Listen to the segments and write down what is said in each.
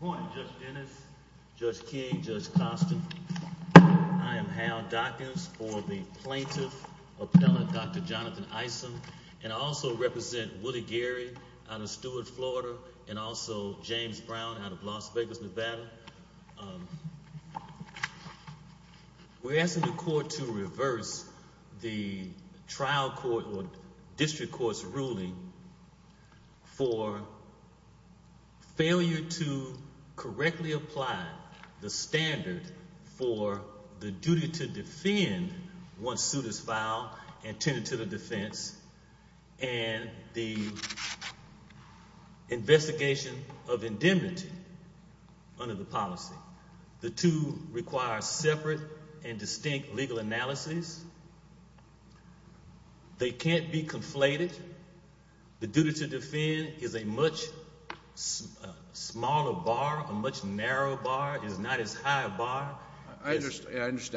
point. Just Dennis, Judge I am how documents for th dr Jonathan Isom and also out of Stewart florida an out of Las Vegas, Nevada. court to reverse the tria court's ruling for failu standard for the duty to file and turn it to the d investigation of indemnit The two require separate legal analysis. They can' duty to defend is a much narrow bar is not as high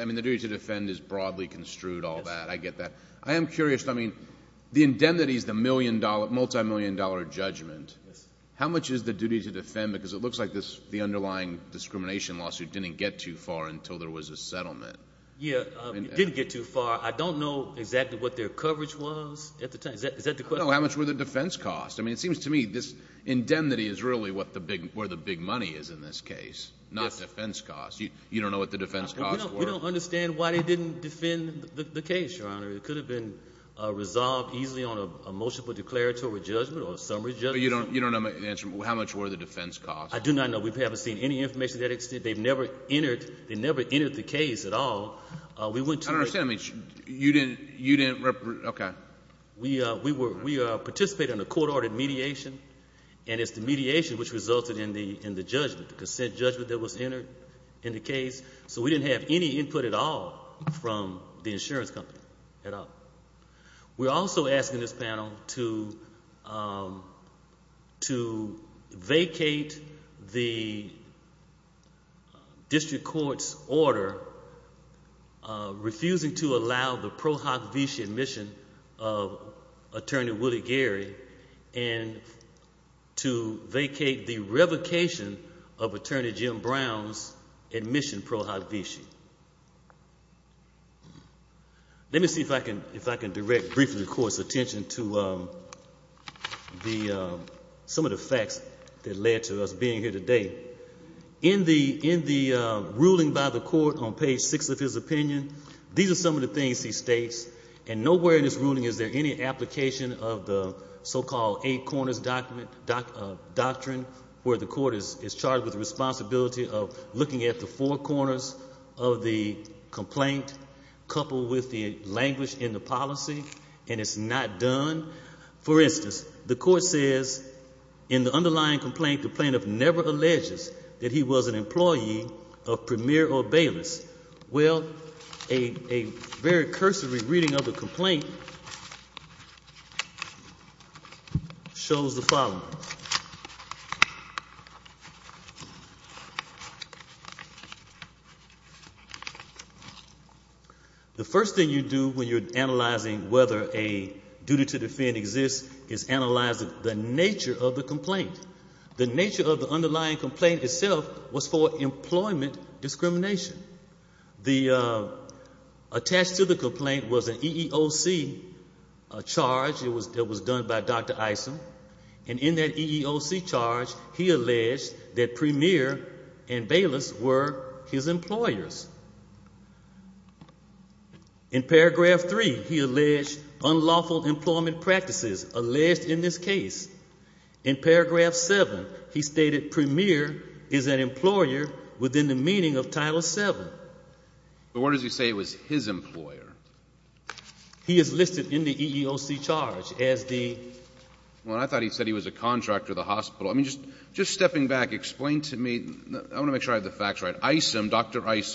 mean the duty to defend i all that. I get that. I a the indemnity is the mill dollar judgment. How much defend because it looks l discrimination lawsuit di there was a settlement. Y I don't know exactly what at the time. Is that the the defense cost? I mean, this indemnity is really big money is in this case You don't know what the d understand why they didn' Your Honor. It could have on a motion for declarat You don't, you don't kno much were the defense cos haven't seen any informat never entered, they never at all. We went to, I don didn't, you didn't, okay. on a court ordered mediat which resulted in the, in judgment that was entered didn't have any input at company at all. We're als district court's order, r the pro hoc vici admissio Gary and to vacate the re Jim Brown's admission pro see if I can, if I can di course attention to um th that led to us being here by the court on page six are some of the things he in this ruling, is there of the so called eight co where the court is is cha of looking at the four qu coupled with the language in the policy and it's no the court says in the unde plaintiff never alleges t of premier or bailiffs. W reading of the complaint shows the following. The when you're analyzing whe exists is analyzing the n The nature of the underli was for employment discrim The attached to the compl charge. It was, it was do in that EEOC charge, he a and bailiffs were his empl three, he alleged unlawful alleged in this case. In stated premier is an empl of title seven. But what his employer? He is liste as the, well, I thought h the hospital. I mean, jus explain to me, I want to facts right. I some dr I s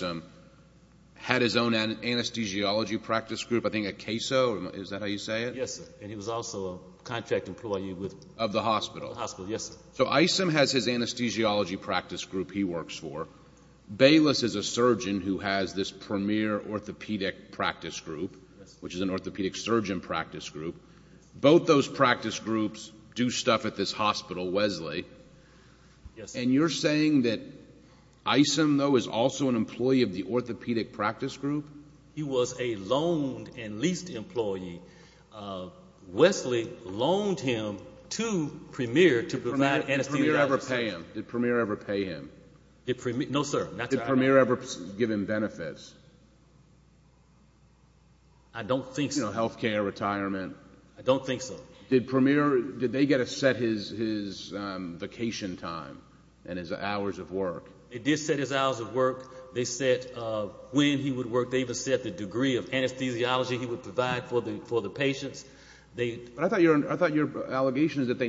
practice group, I think a how you say it? Yes. And employee with of the hosp I some has his anesthesio for. Bayless is a surgeon orthopedic practice group surgeon practice group. B groups do stuff at this h you're saying that I some an employee of the orthope He was a loaned and leased loaned him to premier to p premier ever pay him? No, ever give him benefits? I health care retirement? I premier, did they get a s time and his hours of wor hours of work. They said They even set the degree he would provide for the I thought your, I thought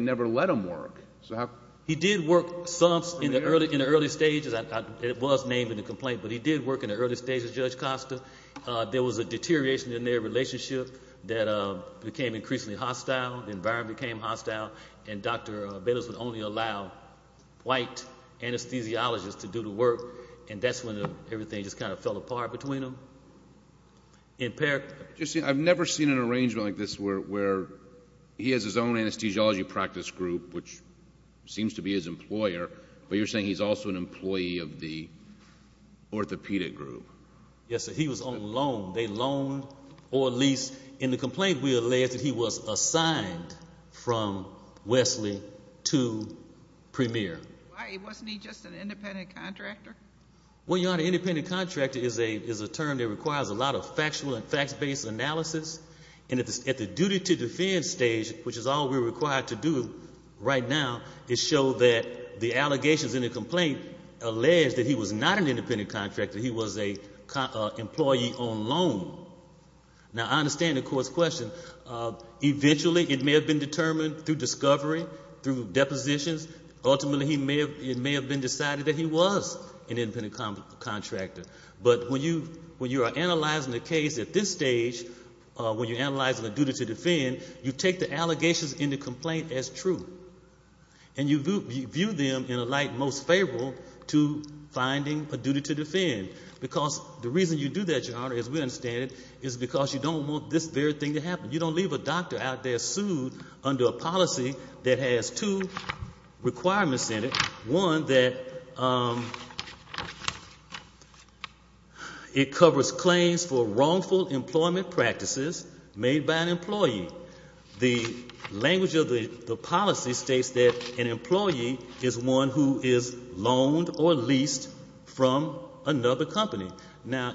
never let him work. So ho in the early, in the earl named in the complaint, b early stages. Judge Costa in their relationship tha hostile environment, beca Bayless would only allow to do the work. And that' just kind of fell apart b I've never seen an arrang where he has his own anes group, which seems to be you're saying he's also a orthopedic group. Yes, he loaned or at least in the that he was assigned from Why wasn't he just an ind Well, you're not an indep a is a term that requires factual and facts based a the duty to defend stage, to do right now is show t in the complaint alleged independent contractor. H on loan. Now, I understan Uh, eventually it may hav through discovery, throug he may have, it may have he was an independent con But when you, when you ar at this stage, when you a to defend, you take the a as true and you view them favorable to finding a du the reason you do that, Y is because you don't want to happen. You don't leav sued under a policy that two requirements in it. O claims for wrongful emplo by an employee. The langu states that an employee i or leased from another co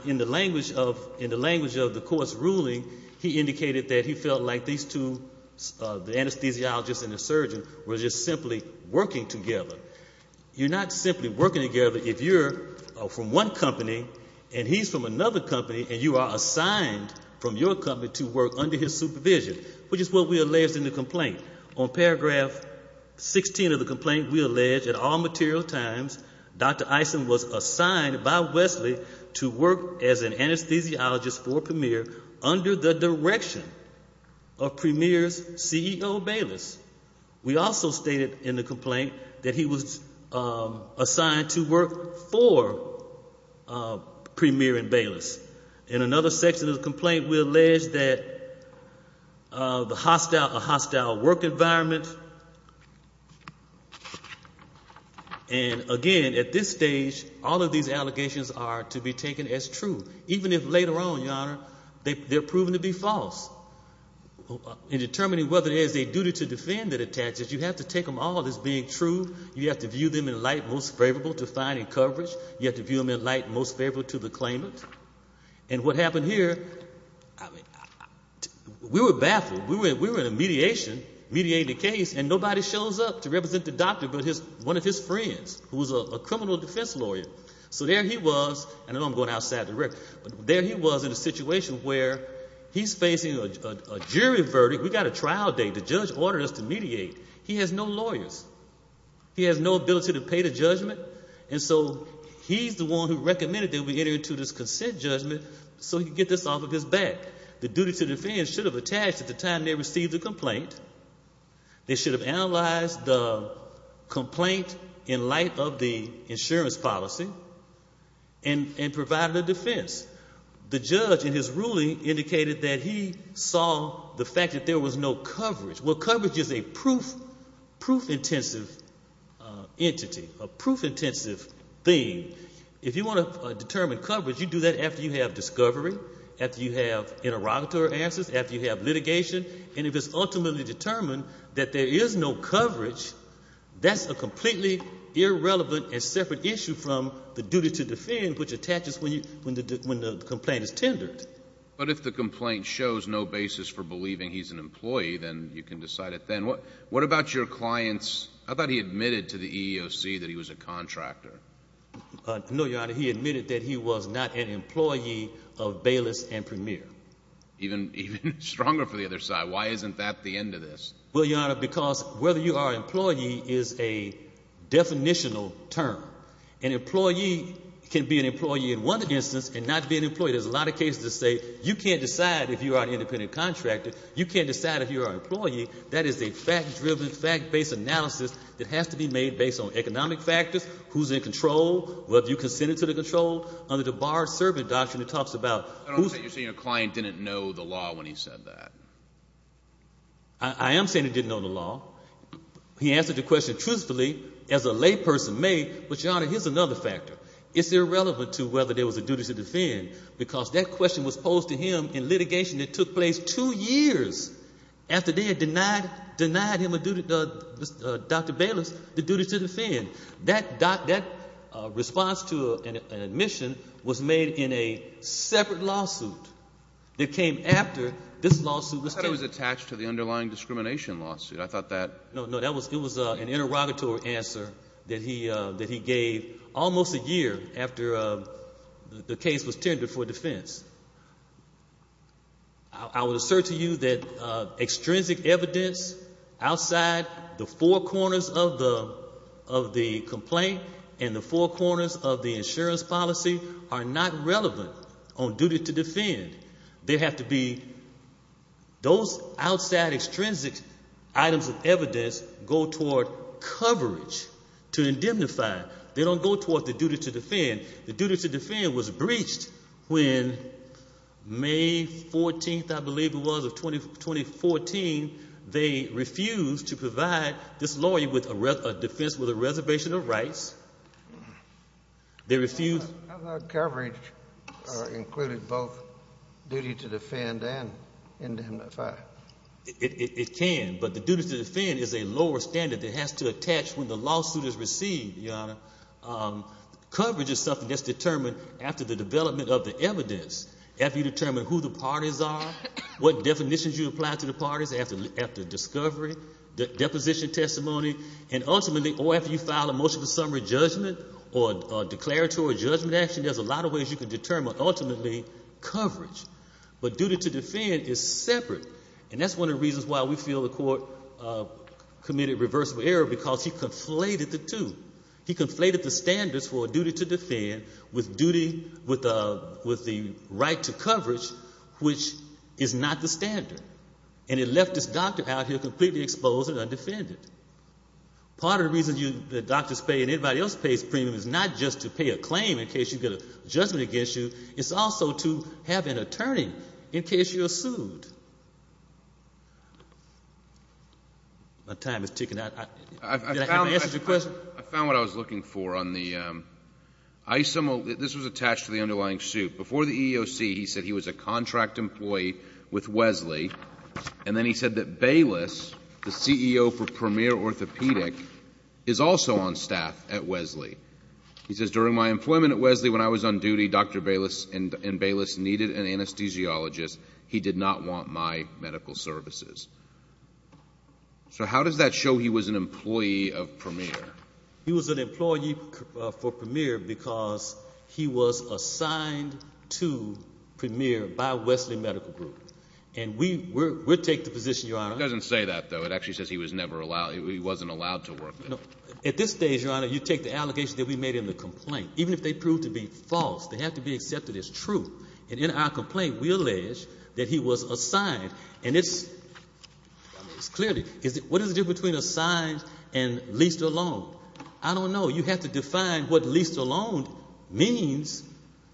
language of, in the langu ruling, he indicated that these two, the anesthesio were just simply working simply working together. company and he's from ano are assigned from your co his supervision, which is the complaint. On paragra we allege at all material was assigned by Wesley to an anesthesiologist for P direction of premier's ce stated in the complaint t to work for premier and B section of the complaint hostile, a hostile work e at this stage, all of the are to be taken as true. your honor, they're provi determining whether it is that attaches, you have t being true. You have to v favorable to find a covera in light, most favorable t what happened here? I mea We were in a mediation, m nobody shows up to represe his one of his friends wh defense lawyer. So there going outside the record, a situation where he's fa We've got a trial date. T to mediate. He has no lau to pay the judgment. And who recommended that we e judgment. So you get this duty to defend should have they received the complai should have analyzed the of the insurance policy a defense. The judge in his he saw the fact that there Well, coverage is a proof a proof intensive thing. coverage, you do that afte after you have interrogato you have litigation and i that there is no coverage irrelevant and separate i to defend, which attaches the complaint is tendered. shows no basis for believ then you can decide it. T your clients? I thought h that he was a contractor. he admitted that he was n and premier even even stro Why isn't that the end of because whether you are e term, an employee can be and not be an employee. T to say you can't decide i contractor. You can't dec That is a fact driven, fa that has to be made based who's in control, whether control under the bar ser about you're saying a cli know the law when he said didn't know the law. He a truthfully as a lay person here's another factor. Is whether there was a duty that question was posed t took place two years afte him a duty. Dr Bayless, t that that response to an in a separate lawsuit tha lawsuit was attached to t lawsuit. I thought that n an interrogatory answer t a year after the case was I will assert to you that outside the four corners and the four corners of t are not relevant on duty have to be those outside of evidence go toward cov They don't go towards the The duty to defend was br 14th, I believe it was of to provide this lawyer wi a reservation of rights. coverage included both du in the fact it can, but t is a lower standard that the lawsuit is received. is something that's deter of the evidence. After yo parties are, what definiti the parties after after d testimony and ultimately a motion of summary judgm judgment action, there's can determine ultimately to defend is separate. An reasons why we feel the c error because he conflate the standards for duty to with the right to coverag standard and it left this exposed and undefended. P that doctors pay and anyb is not just to pay a claim against you. It's also to case you're sued. My time I found the question. I f for on the um I some of th to the underlying suit be he was a contract employe Bayless, the ceo for Prem also on staff at Wesley. employment at Wesley when Bayless and Bayless neede He did not want my medica does that show he was an He was an employee for Pr assigned to premier by We group. And we were, we're your honor doesn't say th says he was never allowed to work. At this stage, y the allocation that we ma even if they prove to be to be accepted as true. A we allege that he was ass what is the difference be alone? I don't know. You least alone means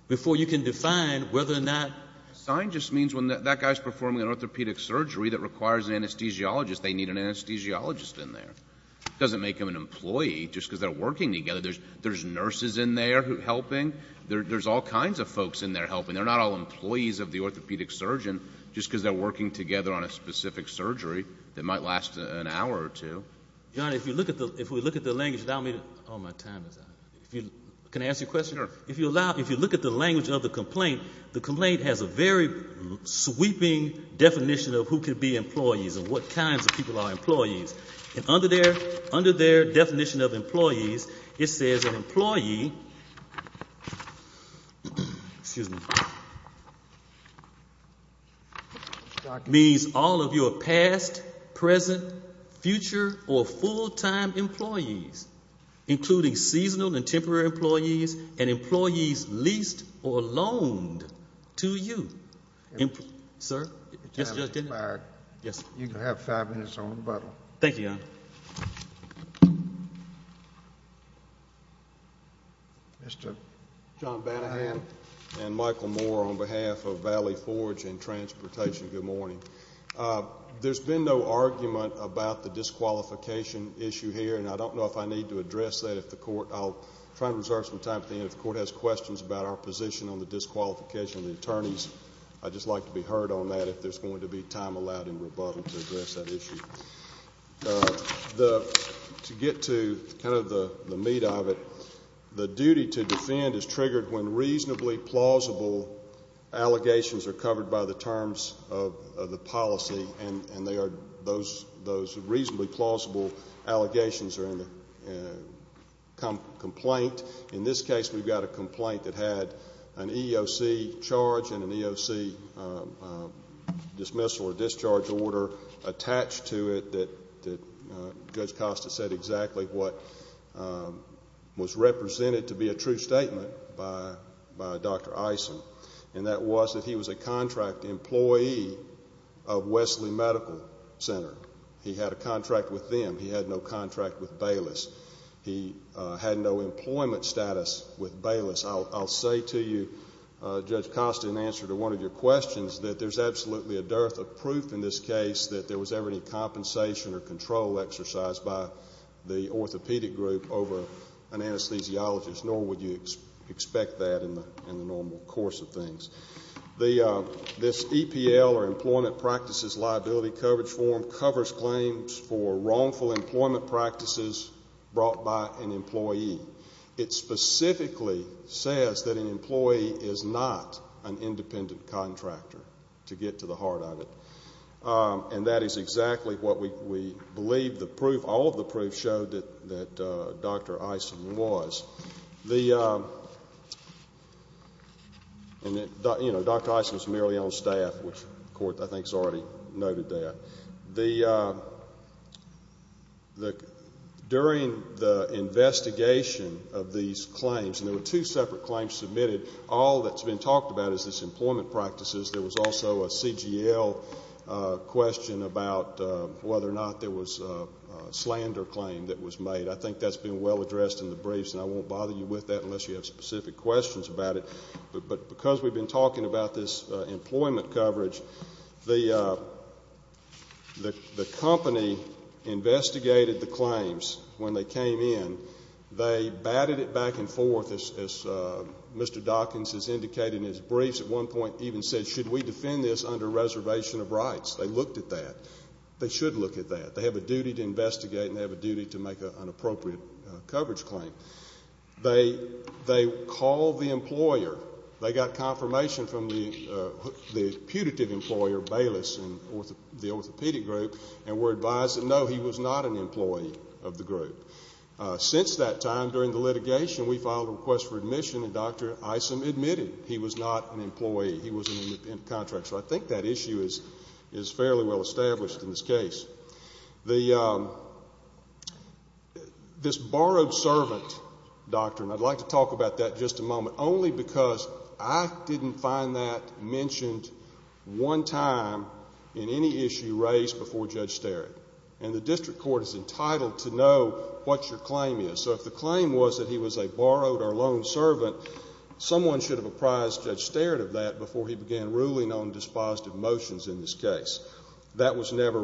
before whether or not sign just performing an orthopedic anesthesiologist, they ne in there. Doesn't make hi because they're working t nurses in there helping. of folks in there helpin of the orthopedic surgeon working together on a spe might last an hour or two at the, if we look at the me, all my time is out. I question. If you allow, i of the complaint, the com sweeping definition of wh and what kinds of people under their, under their it says an employee, excus all of your past, present employees, including seas employees and employees l to you, sir. Yes. Yes. Yo on the bottle. Thank you, Bannahan and Michael Moore Forge and transportation. been no argument about th issue here. And I don't k that if the court, I'll t time at the end of the co about our position on the attorneys. I just like to if there's going to be ti to address that issue. Uh of the meat of it. The du is triggered when reasona are covered by the terms and they are those, those allegations are in the co case, we've got a complai charge and an EOC, um, di order attached to it. Tha said exactly what, um, wa a true statement by dr Is that he was a contract em of Wesley Medical Center. with them. He had no cont He had no employment stat I'll say to you, uh, Judge to one of your questions, a dearth of proof in this ever any compensation or by the orthopedic group o nor would you expect that in the normal course of t or employment practices, l form covers claims for ro practices brought by an e says that an employee is contractor to get to the that is exactly what we b all of the proof showed t was the, uh, and you know on staff, which court I t that the, uh, the, during of these claims and there claims submitted. All tha is this employment practi was also a C. G. L. Uh, q or not. There was a sland made. I think that's been the briefs and I won't bo unless you have specific But because we've been ta coverage, the, uh, the co the claims when they came it back and forth. As Mr. has indicated in his brie said, should we defend th of rights? They looked at look at that. They have a and they have a duty to m coverage claim. They, the They got confirmation fro employer Bayless and the and were advised that no, of the group. Uh, since t litigation, we filed a re and Dr Isom admitted he w He was in the contract. S is, is fairly well establ The, um, this borrowed se like to talk about that j because I didn't find tha time in any issue race be the district court is ent your claim is. So if the was a borrowed or loaned should have apprised judg before he began ruling on in this case that was nev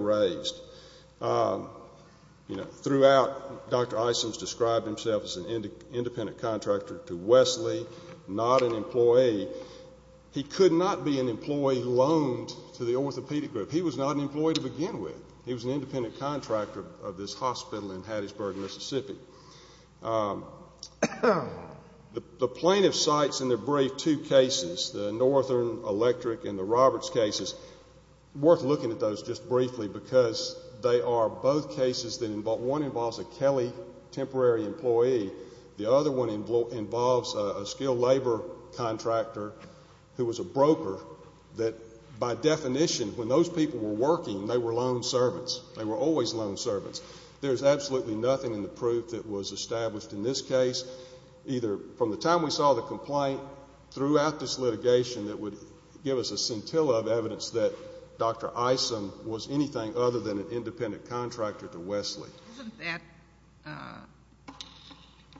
throughout. Dr Isom's des an independent contractor employee. He could not be the orthopedic group. He begin with. He was an ind Um, the plaintiff sites i the northern electric and worth looking at those ju they are both cases that a kelly temporary employe involves a skilled labor a broker that by definiti were working, they were l were always loan servants. There's absolutely nothi that was established in t from the time we saw the litigation that would giv evidence that Dr Isom was an independent contractor that, uh,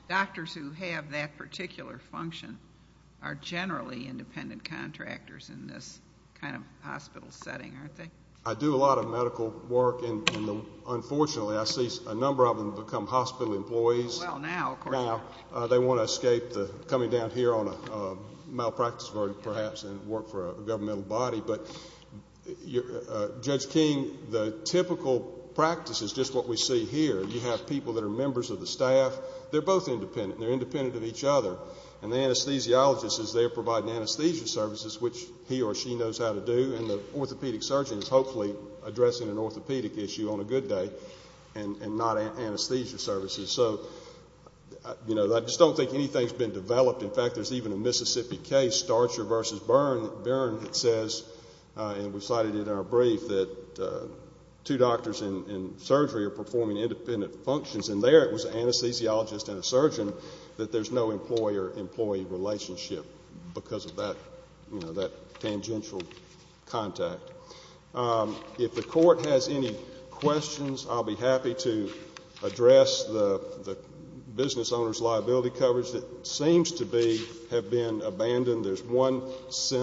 doctors who hav function are generally in in this kind of hospital s I do a lot of medical wor I see a number of them be Well, now they want to es here on a malpractice ver for a governmental body. the typical practice is j You have people that are They're both independent of each other. And the an they're providing anesthes he or she knows how to do surgeon is hopefully addr issue on a good day and n So, you know, I just don' been developed. In fact, case starts your versus b we cited in our brief tha are performing independent it was anesthesiologist an there's no employer employ because of that, you know contact. Um, if the court I'll be happy to address liability coverage that s abandoned. There's one se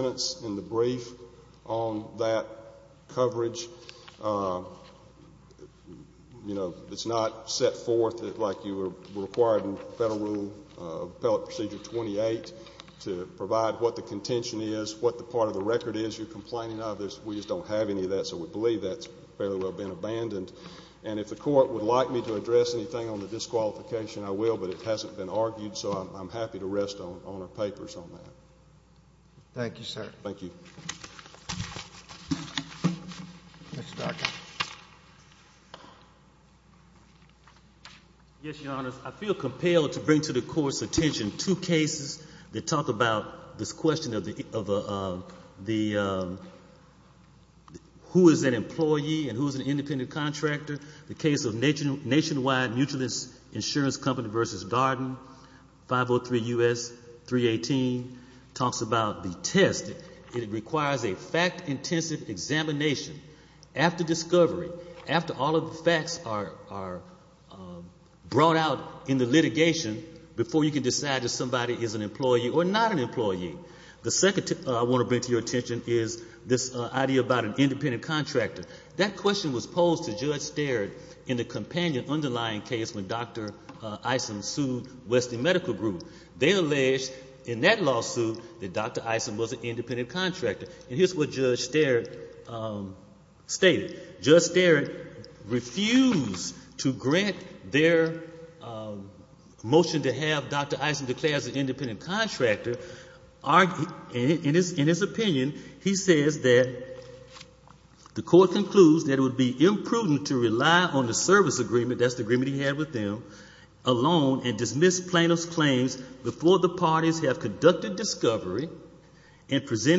on that coverage. Uh, you set forth like you were r uh, appellate procedure 2 the contention is, what t is. You're complaining of have any of that. So we b well been abandoned. And me to address anything on I will, but it hasn't bee happy to rest on our pape sir. Thank you. Yes, Your compelled to bring to the two cases that talk about of the, of the, uh, who i who is an independent con nationwide mutualist insu Garden 503 U. S. 3 18. Ta it requires a fact intens discovery, after all of t are brought out in the li can decide if somebody is not an employee. The seco to your attention is this contractor. That question stared in the companion u Dr Ison sued Westin Medica in that lawsuit that Dr I contractor. And here's wh there, um, stated just th their, um, motion to have an independent contractor he says that the court co be imprudent to rely on t That's the agreement he h and dismissed plaintiff's parties have conducted di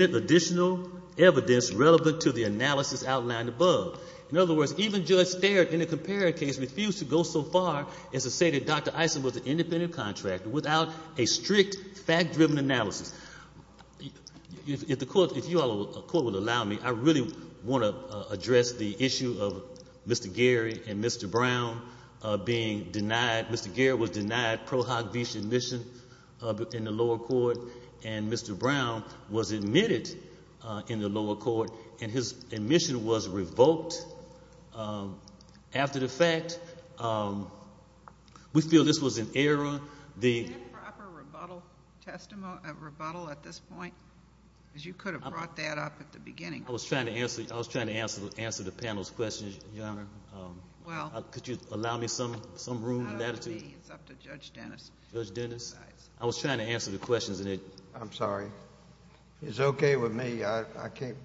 additional evidence relev outlined above. In other in a comparative case, ref is to say that Dr Ison was without a strict fact driv the court, if you are a co I really want to address Gary and Mr Brown being de was denied pro hog vision uh, in the lower court an admitted in the lower cou was revoked. Um, after th this was an error. The pr a rebuttal at this point. brought that up at the be to answer. I was trying t the panel's questions. Yo you allow me some, some r to judge Dennis Dennis. the questions and I'm sor me. I can't,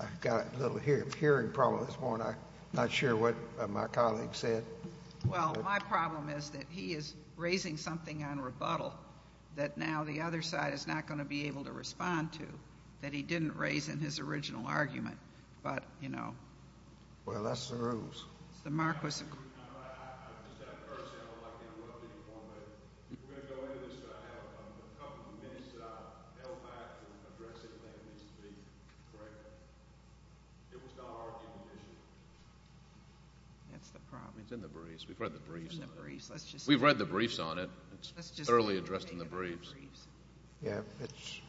I've got a l problem this morning. Not said. Well, my problem is something on rebuttal tha is not going to be able t he didn't raise in his or you know, well, that's th the mark was, I'm just th one of the form. But we'r I have a couple of minutes address it. Let me speak. our condition. That's the briefs. We've read the br We've read the briefs on in the briefs. Yeah, it's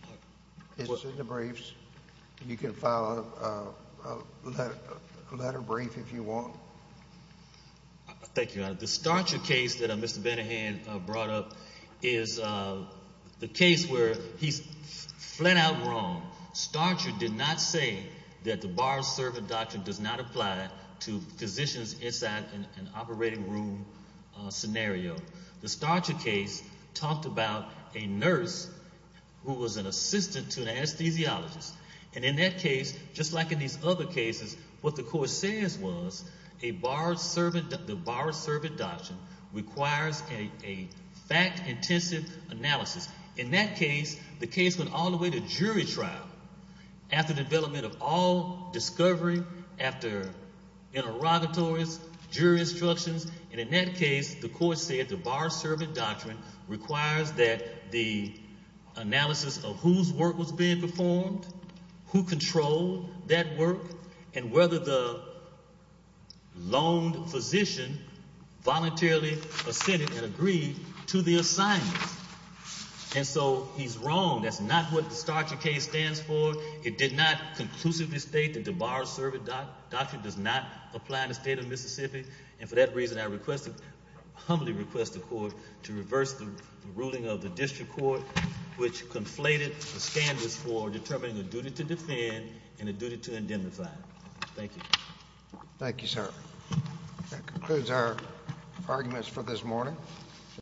Thank you. The stature ca brought up is the case wh wrong. Starcher did not s doctrine does not apply t in an operating room scen case talked about a nurse to an anesthesiologist. A like in these other cases says was a bar servant, t requires a fact intensive case, the case went all t after the development of interrogatories, jury ins case, the court said the requires that the analysi performed, who controlled the loaned physician volu and agreed to the assignm wrong. That's not what th for. It did not conclusiv bar servant doctor does n of Mississippi. And for t humbly request the court ruling of the district co the standards for determ and a duty to indemnify.